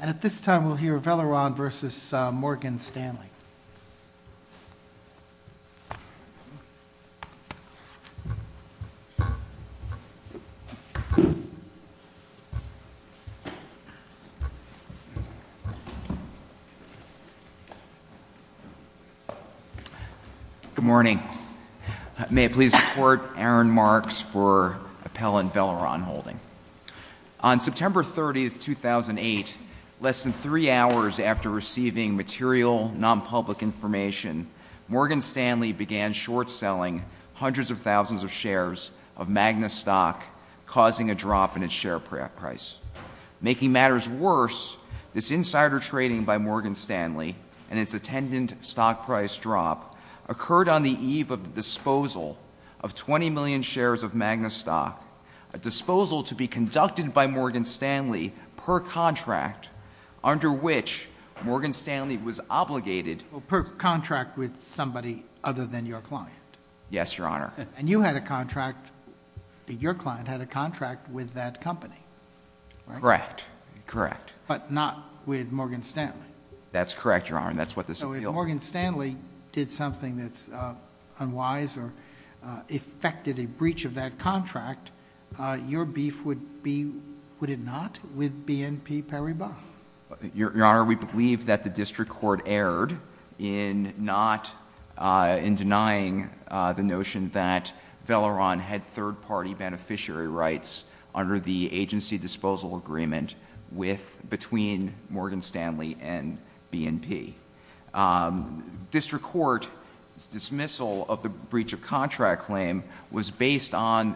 And at this time we'll hear Veleron v. Morgan Stanley. Good morning. May I please support Aaron Marks for Appellant Veleron Holding. On September 30, 2008, less than three hours after receiving material non-public information, Morgan Stanley began short-selling hundreds of thousands of shares of Magna stock, causing a drop in its share price. Making matters worse, this insider trading by Morgan Stanley and its attendant stock price drop occurred on the eve of the disposal of 20 million shares of Magna stock, a disposal to be conducted by Morgan Stanley per contract under which Morgan Stanley was obligated Well, per contract with somebody other than your client. Yes, Your Honor. And you had a contract, your client had a contract with that company, right? Correct, correct. But not with Morgan Stanley. That's correct, Your Honor, and that's what this appeal was. So if Morgan Stanley did something that's unwise or effected a breach of that contract, your beef would be, would it not, with BNP Paribas? Your Honor, we believe that the district court erred in not, in denying the notion that Veleron had third-party District court's dismissal of the breach of contract claim was based on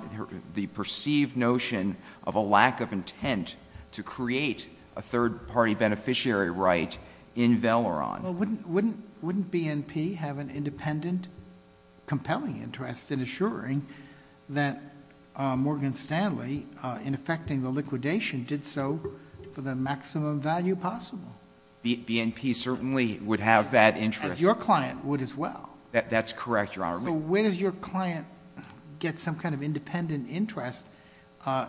the perceived notion of a lack of intent to create a third-party beneficiary right in Veleron. Well, wouldn't BNP have an independent compelling interest in assuring that Morgan Stanley, in effecting the liquidation, did so for the maximum value possible? BNP certainly would have that interest. As your client would as well. That's correct, Your Honor. So where does your client get some kind of independent interest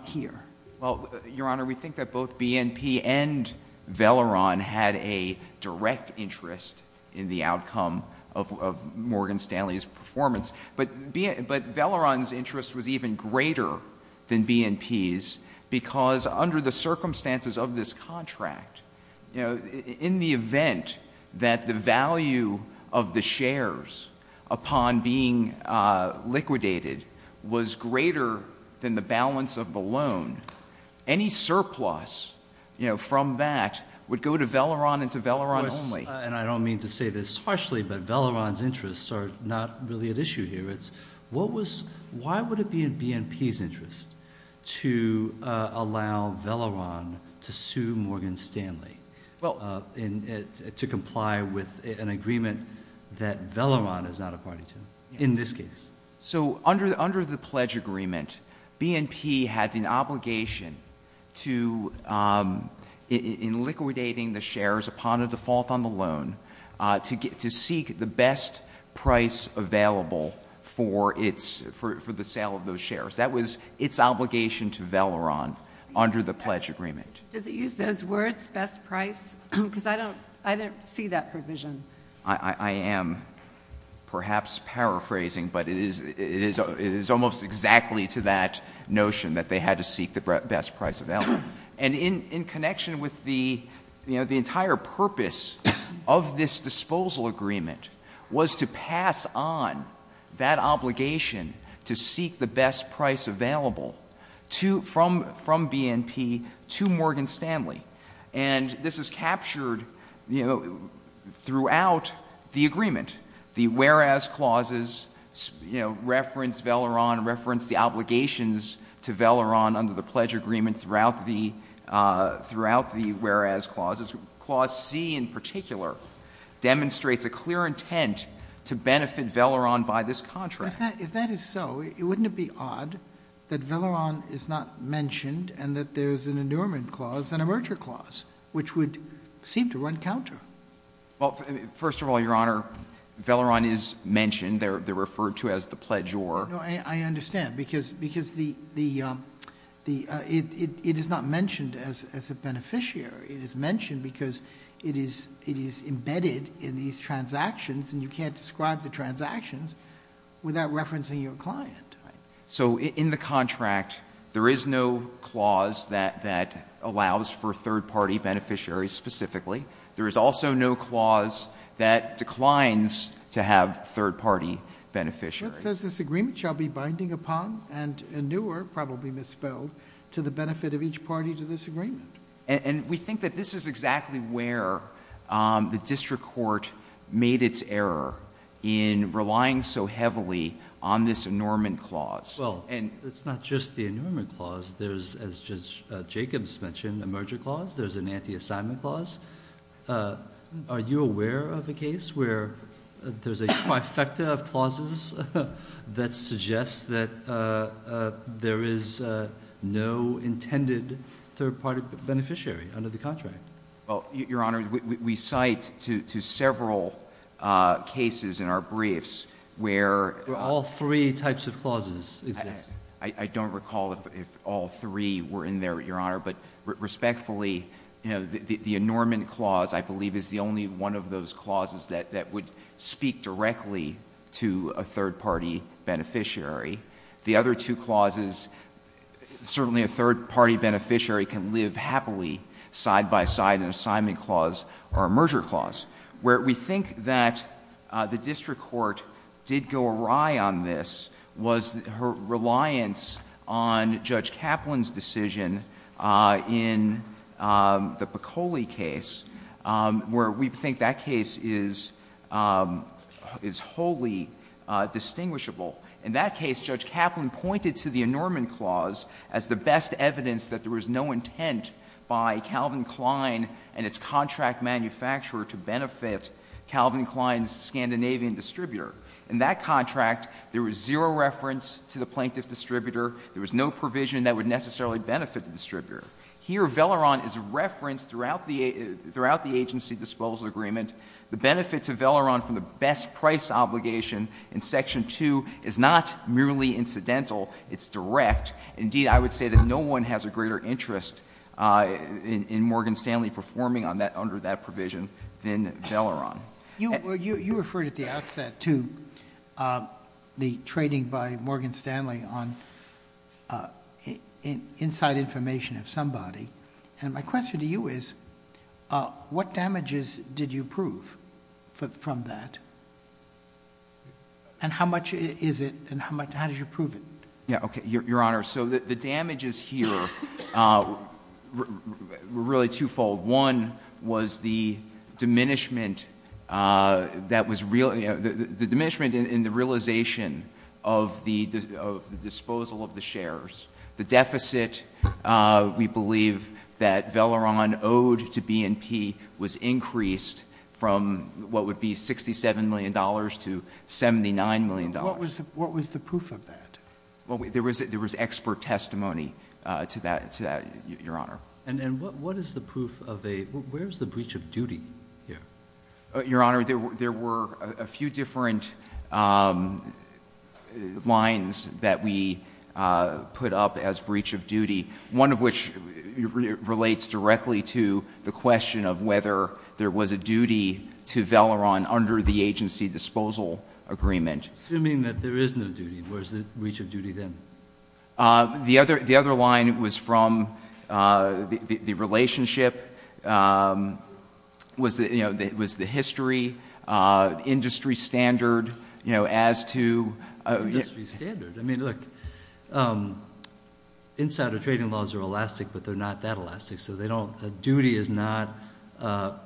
here? Well, Your Honor, we think that both BNP and Veleron had a direct interest in the outcome of Morgan Stanley's performance. But Veleron's interest was even greater than BNP's because under the circumstances of this contract, in the event that the value of the shares upon being liquidated was greater than the balance of the loan, any surplus from that would go to Veleron and to Veleron only. And I don't mean to say this harshly, but Veleron's interests are not really at issue here. Why would it be in BNP's interest to allow Veleron to sue Morgan Stanley to comply with an agreement that Veleron is not a party to, in this case? So under the pledge agreement, BNP had an obligation to, in liquidating the shares upon a default on the loan, to seek the best price available for the sale of those shares. That was its obligation to Veleron under the pledge agreement. Does it use those words, best price? Because I don't see that provision. I am perhaps paraphrasing, but it is almost exactly to that notion that they had to seek the best price available. And in connection with the entire purpose of this disposal agreement was to pass on that obligation to seek the best price available from BNP to Morgan Stanley. And this is captured, you know, throughout the agreement. The whereas clauses, you know, reference Veleron, reference the obligations to Veleron under the pledge agreement throughout the whereas clauses. Clause C in particular demonstrates a clear intent to benefit Veleron by this contract. If that is so, wouldn't it be odd that Veleron is not mentioned and that there is an endowment clause and a merger clause, which would seem to run counter? Well, first of all, Your Honor, Veleron is mentioned. They're referred to as the pledge or. No, I understand. Because it is not mentioned as a beneficiary. It is mentioned because it is embedded in these transactions and you can't describe the transactions without referencing your client. So in the contract, there is no clause that allows for third-party beneficiaries specifically. There is also no clause that declines to have third-party beneficiaries. It says this agreement shall be binding upon and anewer, probably misspelled, to the benefit of each party to this agreement. And we think that this is exactly where the district court made its error in relying so heavily on this enormous clause. Well, and it's not just the enormous clause. There's, as Judge Jacobs mentioned, a merger clause. There's an anti-assignment clause. Are you aware of a case where there's a trifecta of clauses that suggests that there is no intended third-party beneficiary under the contract? Well, Your Honor, we cite to several cases in our briefs where all three types of clauses exist. I don't recall if all three were in there, Your Honor. But respectfully, the enormous clause, I believe, is the only one of those clauses that would speak directly to a third-party beneficiary. The other two clauses, certainly a third-party beneficiary can live happily side-by-side an assignment clause or a merger clause. Where we think that the district court did go awry on this was her reliance on Judge Kaplan's decision in the Piccoli case, where we think that case is wholly distinguishable. In that case, Judge Kaplan pointed to the enormous clause as the best evidence that there was no intent by Calvin Klein and its contract manufacturer to benefit Calvin Klein's Scandinavian distributor. In that contract, there was zero reference to the plaintiff distributor. There was no provision that would necessarily benefit the distributor. Here, Velleron is referenced throughout the agency disposal agreement. The benefit to Velleron from the best price obligation in Section 2 is not merely incidental. It's direct. Indeed, I would say that no one has a greater interest in Morgan Stanley performing under that provision than Velleron. You referred at the outset to the trading by Morgan Stanley on inside information of somebody. And my question to you is, what damages did you prove from that? And how much is it, and how much, how did you prove it? Yeah, okay. Your Honor, so the damages here were really twofold. One was the diminishment in the realization of the disposal of the shares. The deficit, we believe, that Velleron owed to B&P was increased from what would be $67 million to $79 million. What was the proof of that? There was expert testimony to that, Your Honor. And what is the proof of a, where is the breach of duty here? Your Honor, there were a few different lines that we put up as breach of duty, one of which relates directly to the question of whether there was a duty to Velleron under the agency disposal agreement. Assuming that there is no duty, where is the breach of duty then? The other line was from the relationship, was the history, industry standard, you know, as to... Industry standard? I mean, look, insider trading laws are elastic, but they're not that elastic. So they don't, a duty is not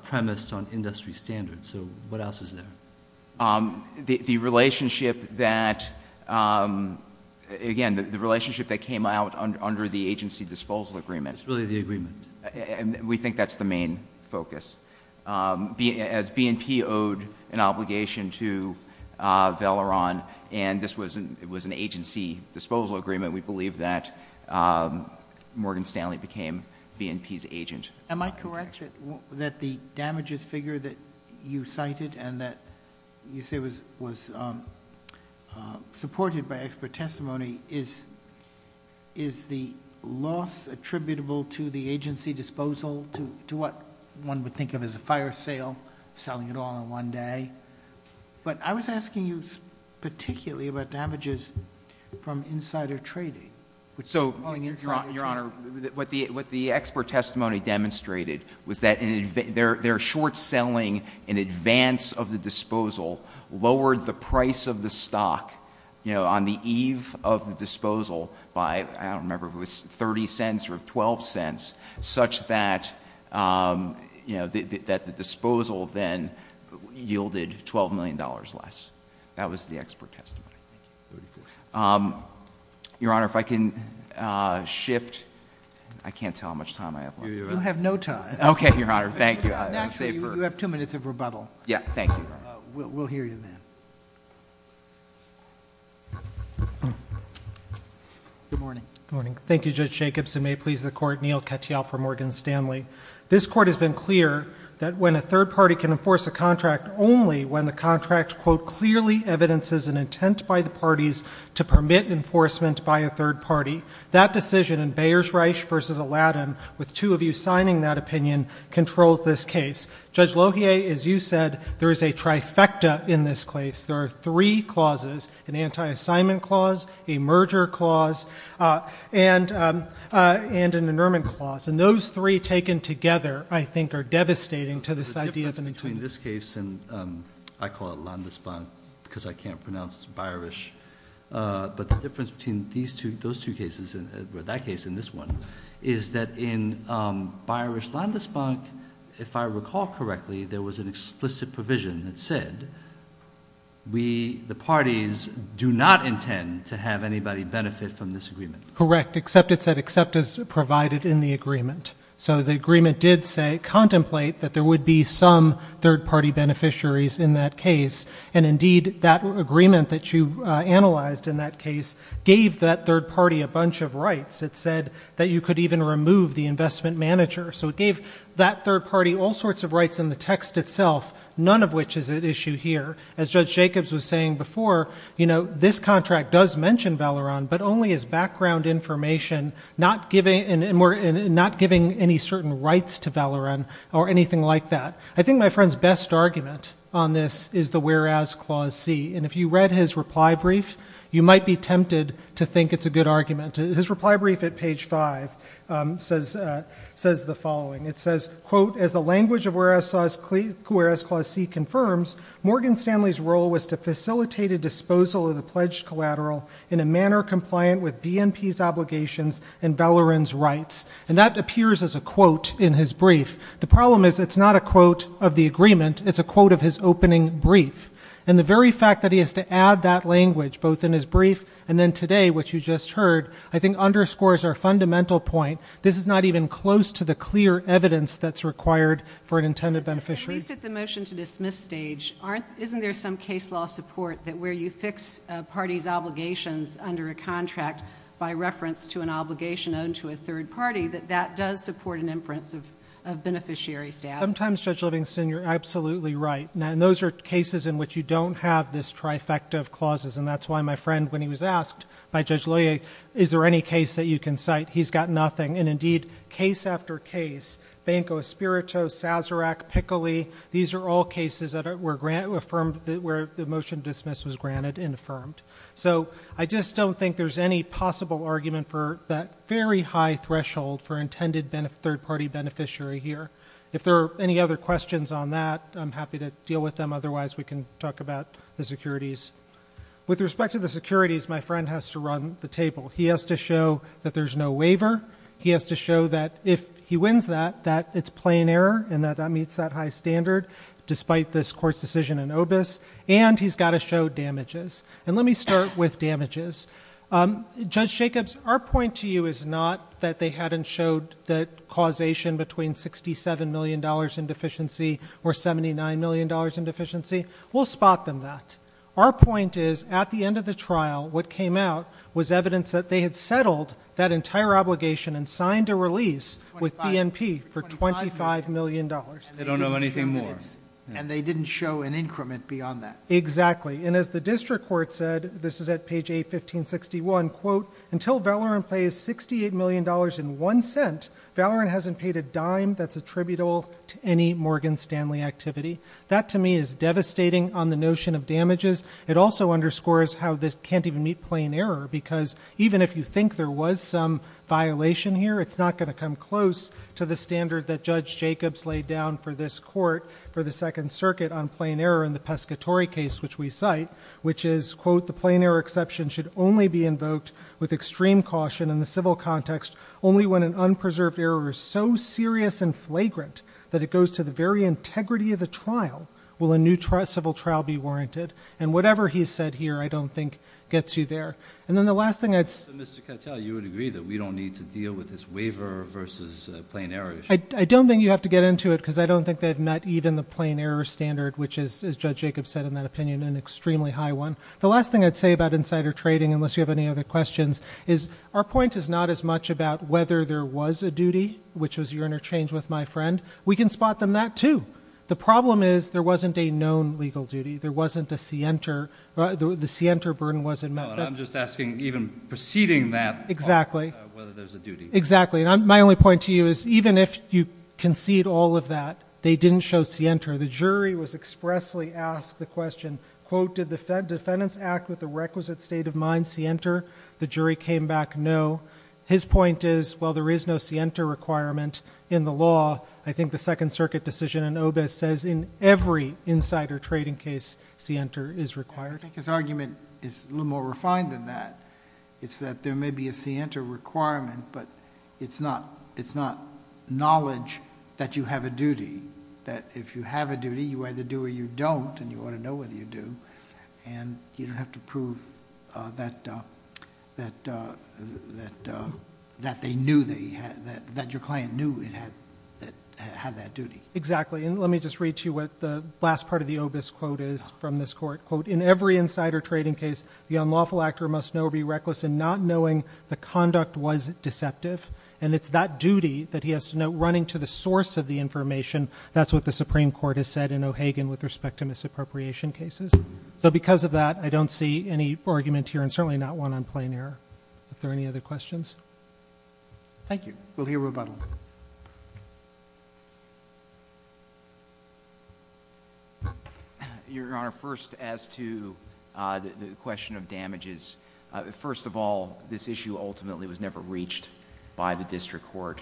premised on industry standards. So what else is there? The relationship that, again, the relationship that came out under the agency disposal agreement. It's really the agreement. And we think that's the main focus. As B&P owed an obligation to Velleron, and this was an agency disposal agreement, we believe that Morgan Stanley became B&P's agent. Am I correct that the damages figure that you cited and that you say was supported by expert testimony is the loss attributable to the agency disposal to what one would think of as a fire sale, selling it all in one day? But I was asking you particularly about damages from insider trading. So, Your Honor, what the expert testimony demonstrated was that their short selling in advance of the disposal lowered the price of the stock, you know, on the eve of the disposal by, I don't remember if it was 30 cents or 12 cents, such that, you know, that the disposal then yielded $12 million less. That was the expert testimony. Thank you. Your Honor, if I can shift. I can't tell how much time I have left. You have no time. Okay, Your Honor. Thank you. Actually, you have two minutes of rebuttal. Yeah. Thank you. We'll hear you then. Good morning. Good morning. Thank you, Judge Jacobson. May it please the Court, Neal Katyal for Morgan Stanley. This Court has been clear that when a third party can enforce a contract only when the contract, quote, clearly evidences an intent by the parties to permit enforcement by a third party, that decision in Beyers-Reich v. Aladdin, with two of you signing that opinion, controls this case. Judge Lohier, as you said, there is a trifecta in this case. There are three clauses, an anti-assignment clause, a merger clause, and an annulment clause. And those three taken together, I think, are devastating to this idea of an intent. The difference between this case and, I call it Landesbank because I can't pronounce Beyerish, but the difference between those two cases, or that case and this one, is that in Beyerish-Landesbank, if I recall correctly, there was an explicit provision that said the parties do not intend to have anybody benefit from this agreement. Correct. Except it said except as provided in the agreement. So the agreement did say, contemplate, that there would be some third party beneficiaries in that case. And, indeed, that agreement that you analyzed in that case gave that third party a bunch of rights. It said that you could even remove the investment manager. So it gave that third party all sorts of rights in the text itself, none of which is at issue here. As Judge Jacobs was saying before, you know, this contract does mention Valoran, but only as background information, not giving any certain rights to Valoran or anything like that. I think my friend's best argument on this is the whereas clause C. And if you read his reply brief, you might be tempted to think it's a good argument. His reply brief at page 5 says the following. It says, quote, as the language of whereas clause C confirms, Morgan Stanley's role was to facilitate a disposal of the pledged collateral in a manner compliant with BNP's obligations and Valoran's rights. And that appears as a quote in his brief. The problem is it's not a quote of the agreement. It's a quote of his opening brief. And the very fact that he has to add that language both in his brief and then today, which you just heard, I think underscores our fundamental point. This is not even close to the clear evidence that's required for an intended beneficiary. At least at the motion to dismiss stage, isn't there some case law support that where you fix a party's obligations under a contract by reference to an obligation owned to a third party, that that does support an inference of beneficiary status? Sometimes, Judge Livingston, you're absolutely right. And those are cases in which you don't have this trifecta of clauses. And that's why my friend, when he was asked by Judge Loyer, is there any case that you can cite? He's got nothing. And indeed, case after case, Banco Espirito, Sazerac, Pickley, these are all cases where the motion to dismiss was granted and affirmed. So I just don't think there's any possible argument for that very high threshold for intended third party beneficiary here. If there are any other questions on that, I'm happy to deal with them. Otherwise, we can talk about the securities. He has to show that there's no waiver. He has to show that if he wins that, that it's plain error and that that meets that high standard, despite this court's decision in OBIS. And he's got to show damages. And let me start with damages. Judge Jacobs, our point to you is not that they hadn't showed the causation between $67 million in deficiency or $79 million in deficiency. We'll spot them that. Our point is, at the end of the trial, what came out was evidence that they had settled that entire obligation and signed a release with BNP for $25 million. They don't know anything more. And they didn't show an increment beyond that. Exactly. And as the district court said, this is at page A1561, quote, until Valoran pays $68 million in one cent, Valoran hasn't paid a dime that's attributable to any Morgan Stanley activity. That, to me, is devastating on the notion of damages. It also underscores how this can't even meet plain error. Because even if you think there was some violation here, it's not going to come close to the standard that Judge Jacobs laid down for this court for the Second Circuit on plain error in the Pescatori case, which we cite, which is, quote, the plain error exception should only be invoked with extreme caution in the civil context only when an unpreserved error is so serious and flagrant that it goes to the very integrity of the trial will a new civil trial be warranted. And whatever he said here I don't think gets you there. And then the last thing I'd say – Mr. Cattell, you would agree that we don't need to deal with this waiver versus plain error issue. I don't think you have to get into it because I don't think they've met even the plain error standard, which is, as Judge Jacobs said in that opinion, an extremely high one. The last thing I'd say about insider trading, unless you have any other questions, is our point is not as much about whether there was a duty, which was your interchange with my friend. We can spot them that, too. The problem is there wasn't a known legal duty. There wasn't a scienter – the scienter burden wasn't met. I'm just asking, even preceding that – Exactly. – whether there's a duty. Exactly. And my only point to you is even if you concede all of that, they didn't show scienter. The jury was expressly asked the question, quote, did the defendant's act with the requisite state of mind scienter? The jury came back no. His point is, while there is no scienter requirement in the law, I think the Second Circuit decision in OBIS says in every insider trading case scienter is required. I think his argument is a little more refined than that. It's that there may be a scienter requirement, but it's not knowledge that you have a duty. That if you have a duty, you either do or you don't, and you ought to know whether you do. And you don't have to prove that they knew that your client knew it had that duty. Exactly. And let me just read to you what the last part of the OBIS quote is from this court. Quote, in every insider trading case, the unlawful actor must know or be reckless in not knowing the conduct was deceptive. And it's that duty that he has to know, running to the source of the information. That's what the Supreme Court has said in O'Hagan with respect to misappropriation cases. So because of that, I don't see any argument here, and certainly not one on plain error. Are there any other questions? Thank you. We'll hear rebuttal. Your Honor, first as to the question of damages. First of all, this issue ultimately was never reached by the district court.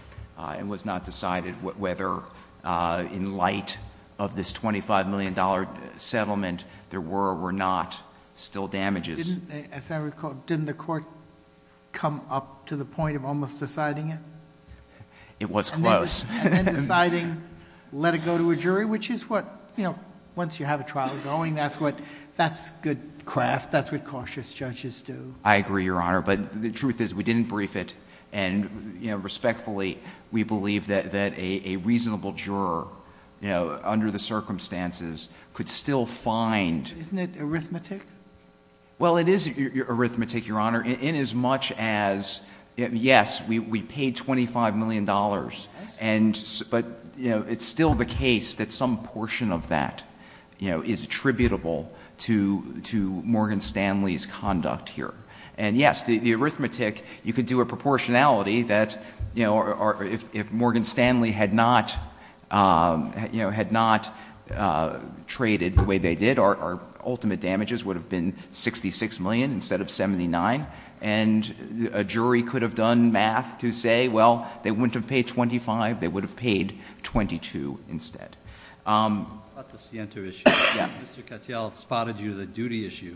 It was not decided whether, in light of this $25 million settlement, there were or were not still damages. As I recall, didn't the court come up to the point of almost deciding it? It was close. And then deciding, let it go to a jury, which is what, you know, once you have a trial going, that's good craft. That's what cautious judges do. I agree, Your Honor. But the truth is, we didn't brief it. And, you know, respectfully, we believe that a reasonable juror, you know, under the circumstances, could still find. Isn't it arithmetic? Well, it is arithmetic, Your Honor, in as much as, yes, we paid $25 million. But, you know, it's still the case that some portion of that, you know, is attributable to Morgan Stanley's conduct here. And, yes, the arithmetic, you could do a proportionality that, you know, if Morgan Stanley had not, you know, had not traded the way they did, our ultimate damages would have been $66 million instead of $79 million. And a jury could have done math to say, well, they wouldn't have paid $25, they would have paid $22 instead. But the Sienter issue. Yeah. Mr. Katyal spotted you, the duty issue,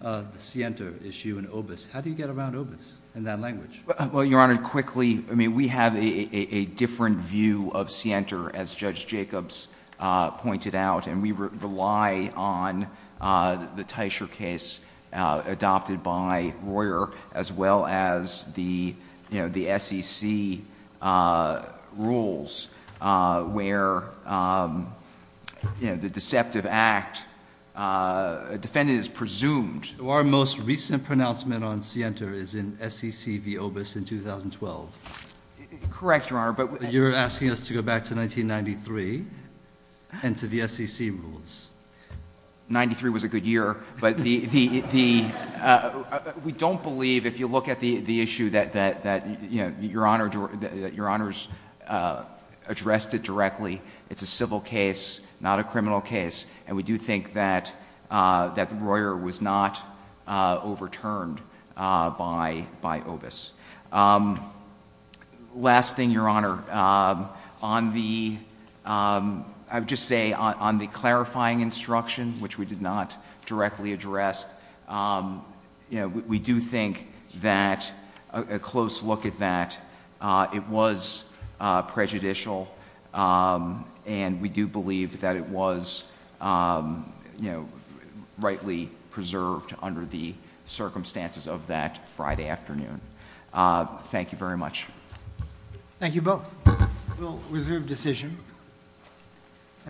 the Sienter issue in OBIS. How do you get around OBIS in that language? Well, Your Honor, quickly, I mean, we have a different view of Sienter, as Judge Jacobs pointed out. And we rely on the Teicher case adopted by Royer, as well as the, you know, the SEC rules where, you know, the deceptive act defendant is presumed. Our most recent pronouncement on Sienter is in SEC v. OBIS in 2012. Correct, Your Honor. But you're asking us to go back to 1993 and to the SEC rules. Ninety-three was a good year. But we don't believe, if you look at the issue, that, you know, Your Honor's addressed it directly. It's a civil case, not a criminal case. And we do think that Royer was not overturned by OBIS. Last thing, Your Honor, on the, I would just say, on the clarifying instruction, which we did not directly address, you know, we do think that a close look at that, it was prejudicial. And we do believe that it was, you know, rightly preserved under the circumstances of that Friday afternoon. Thank you very much. Thank you both. We'll reserve decision.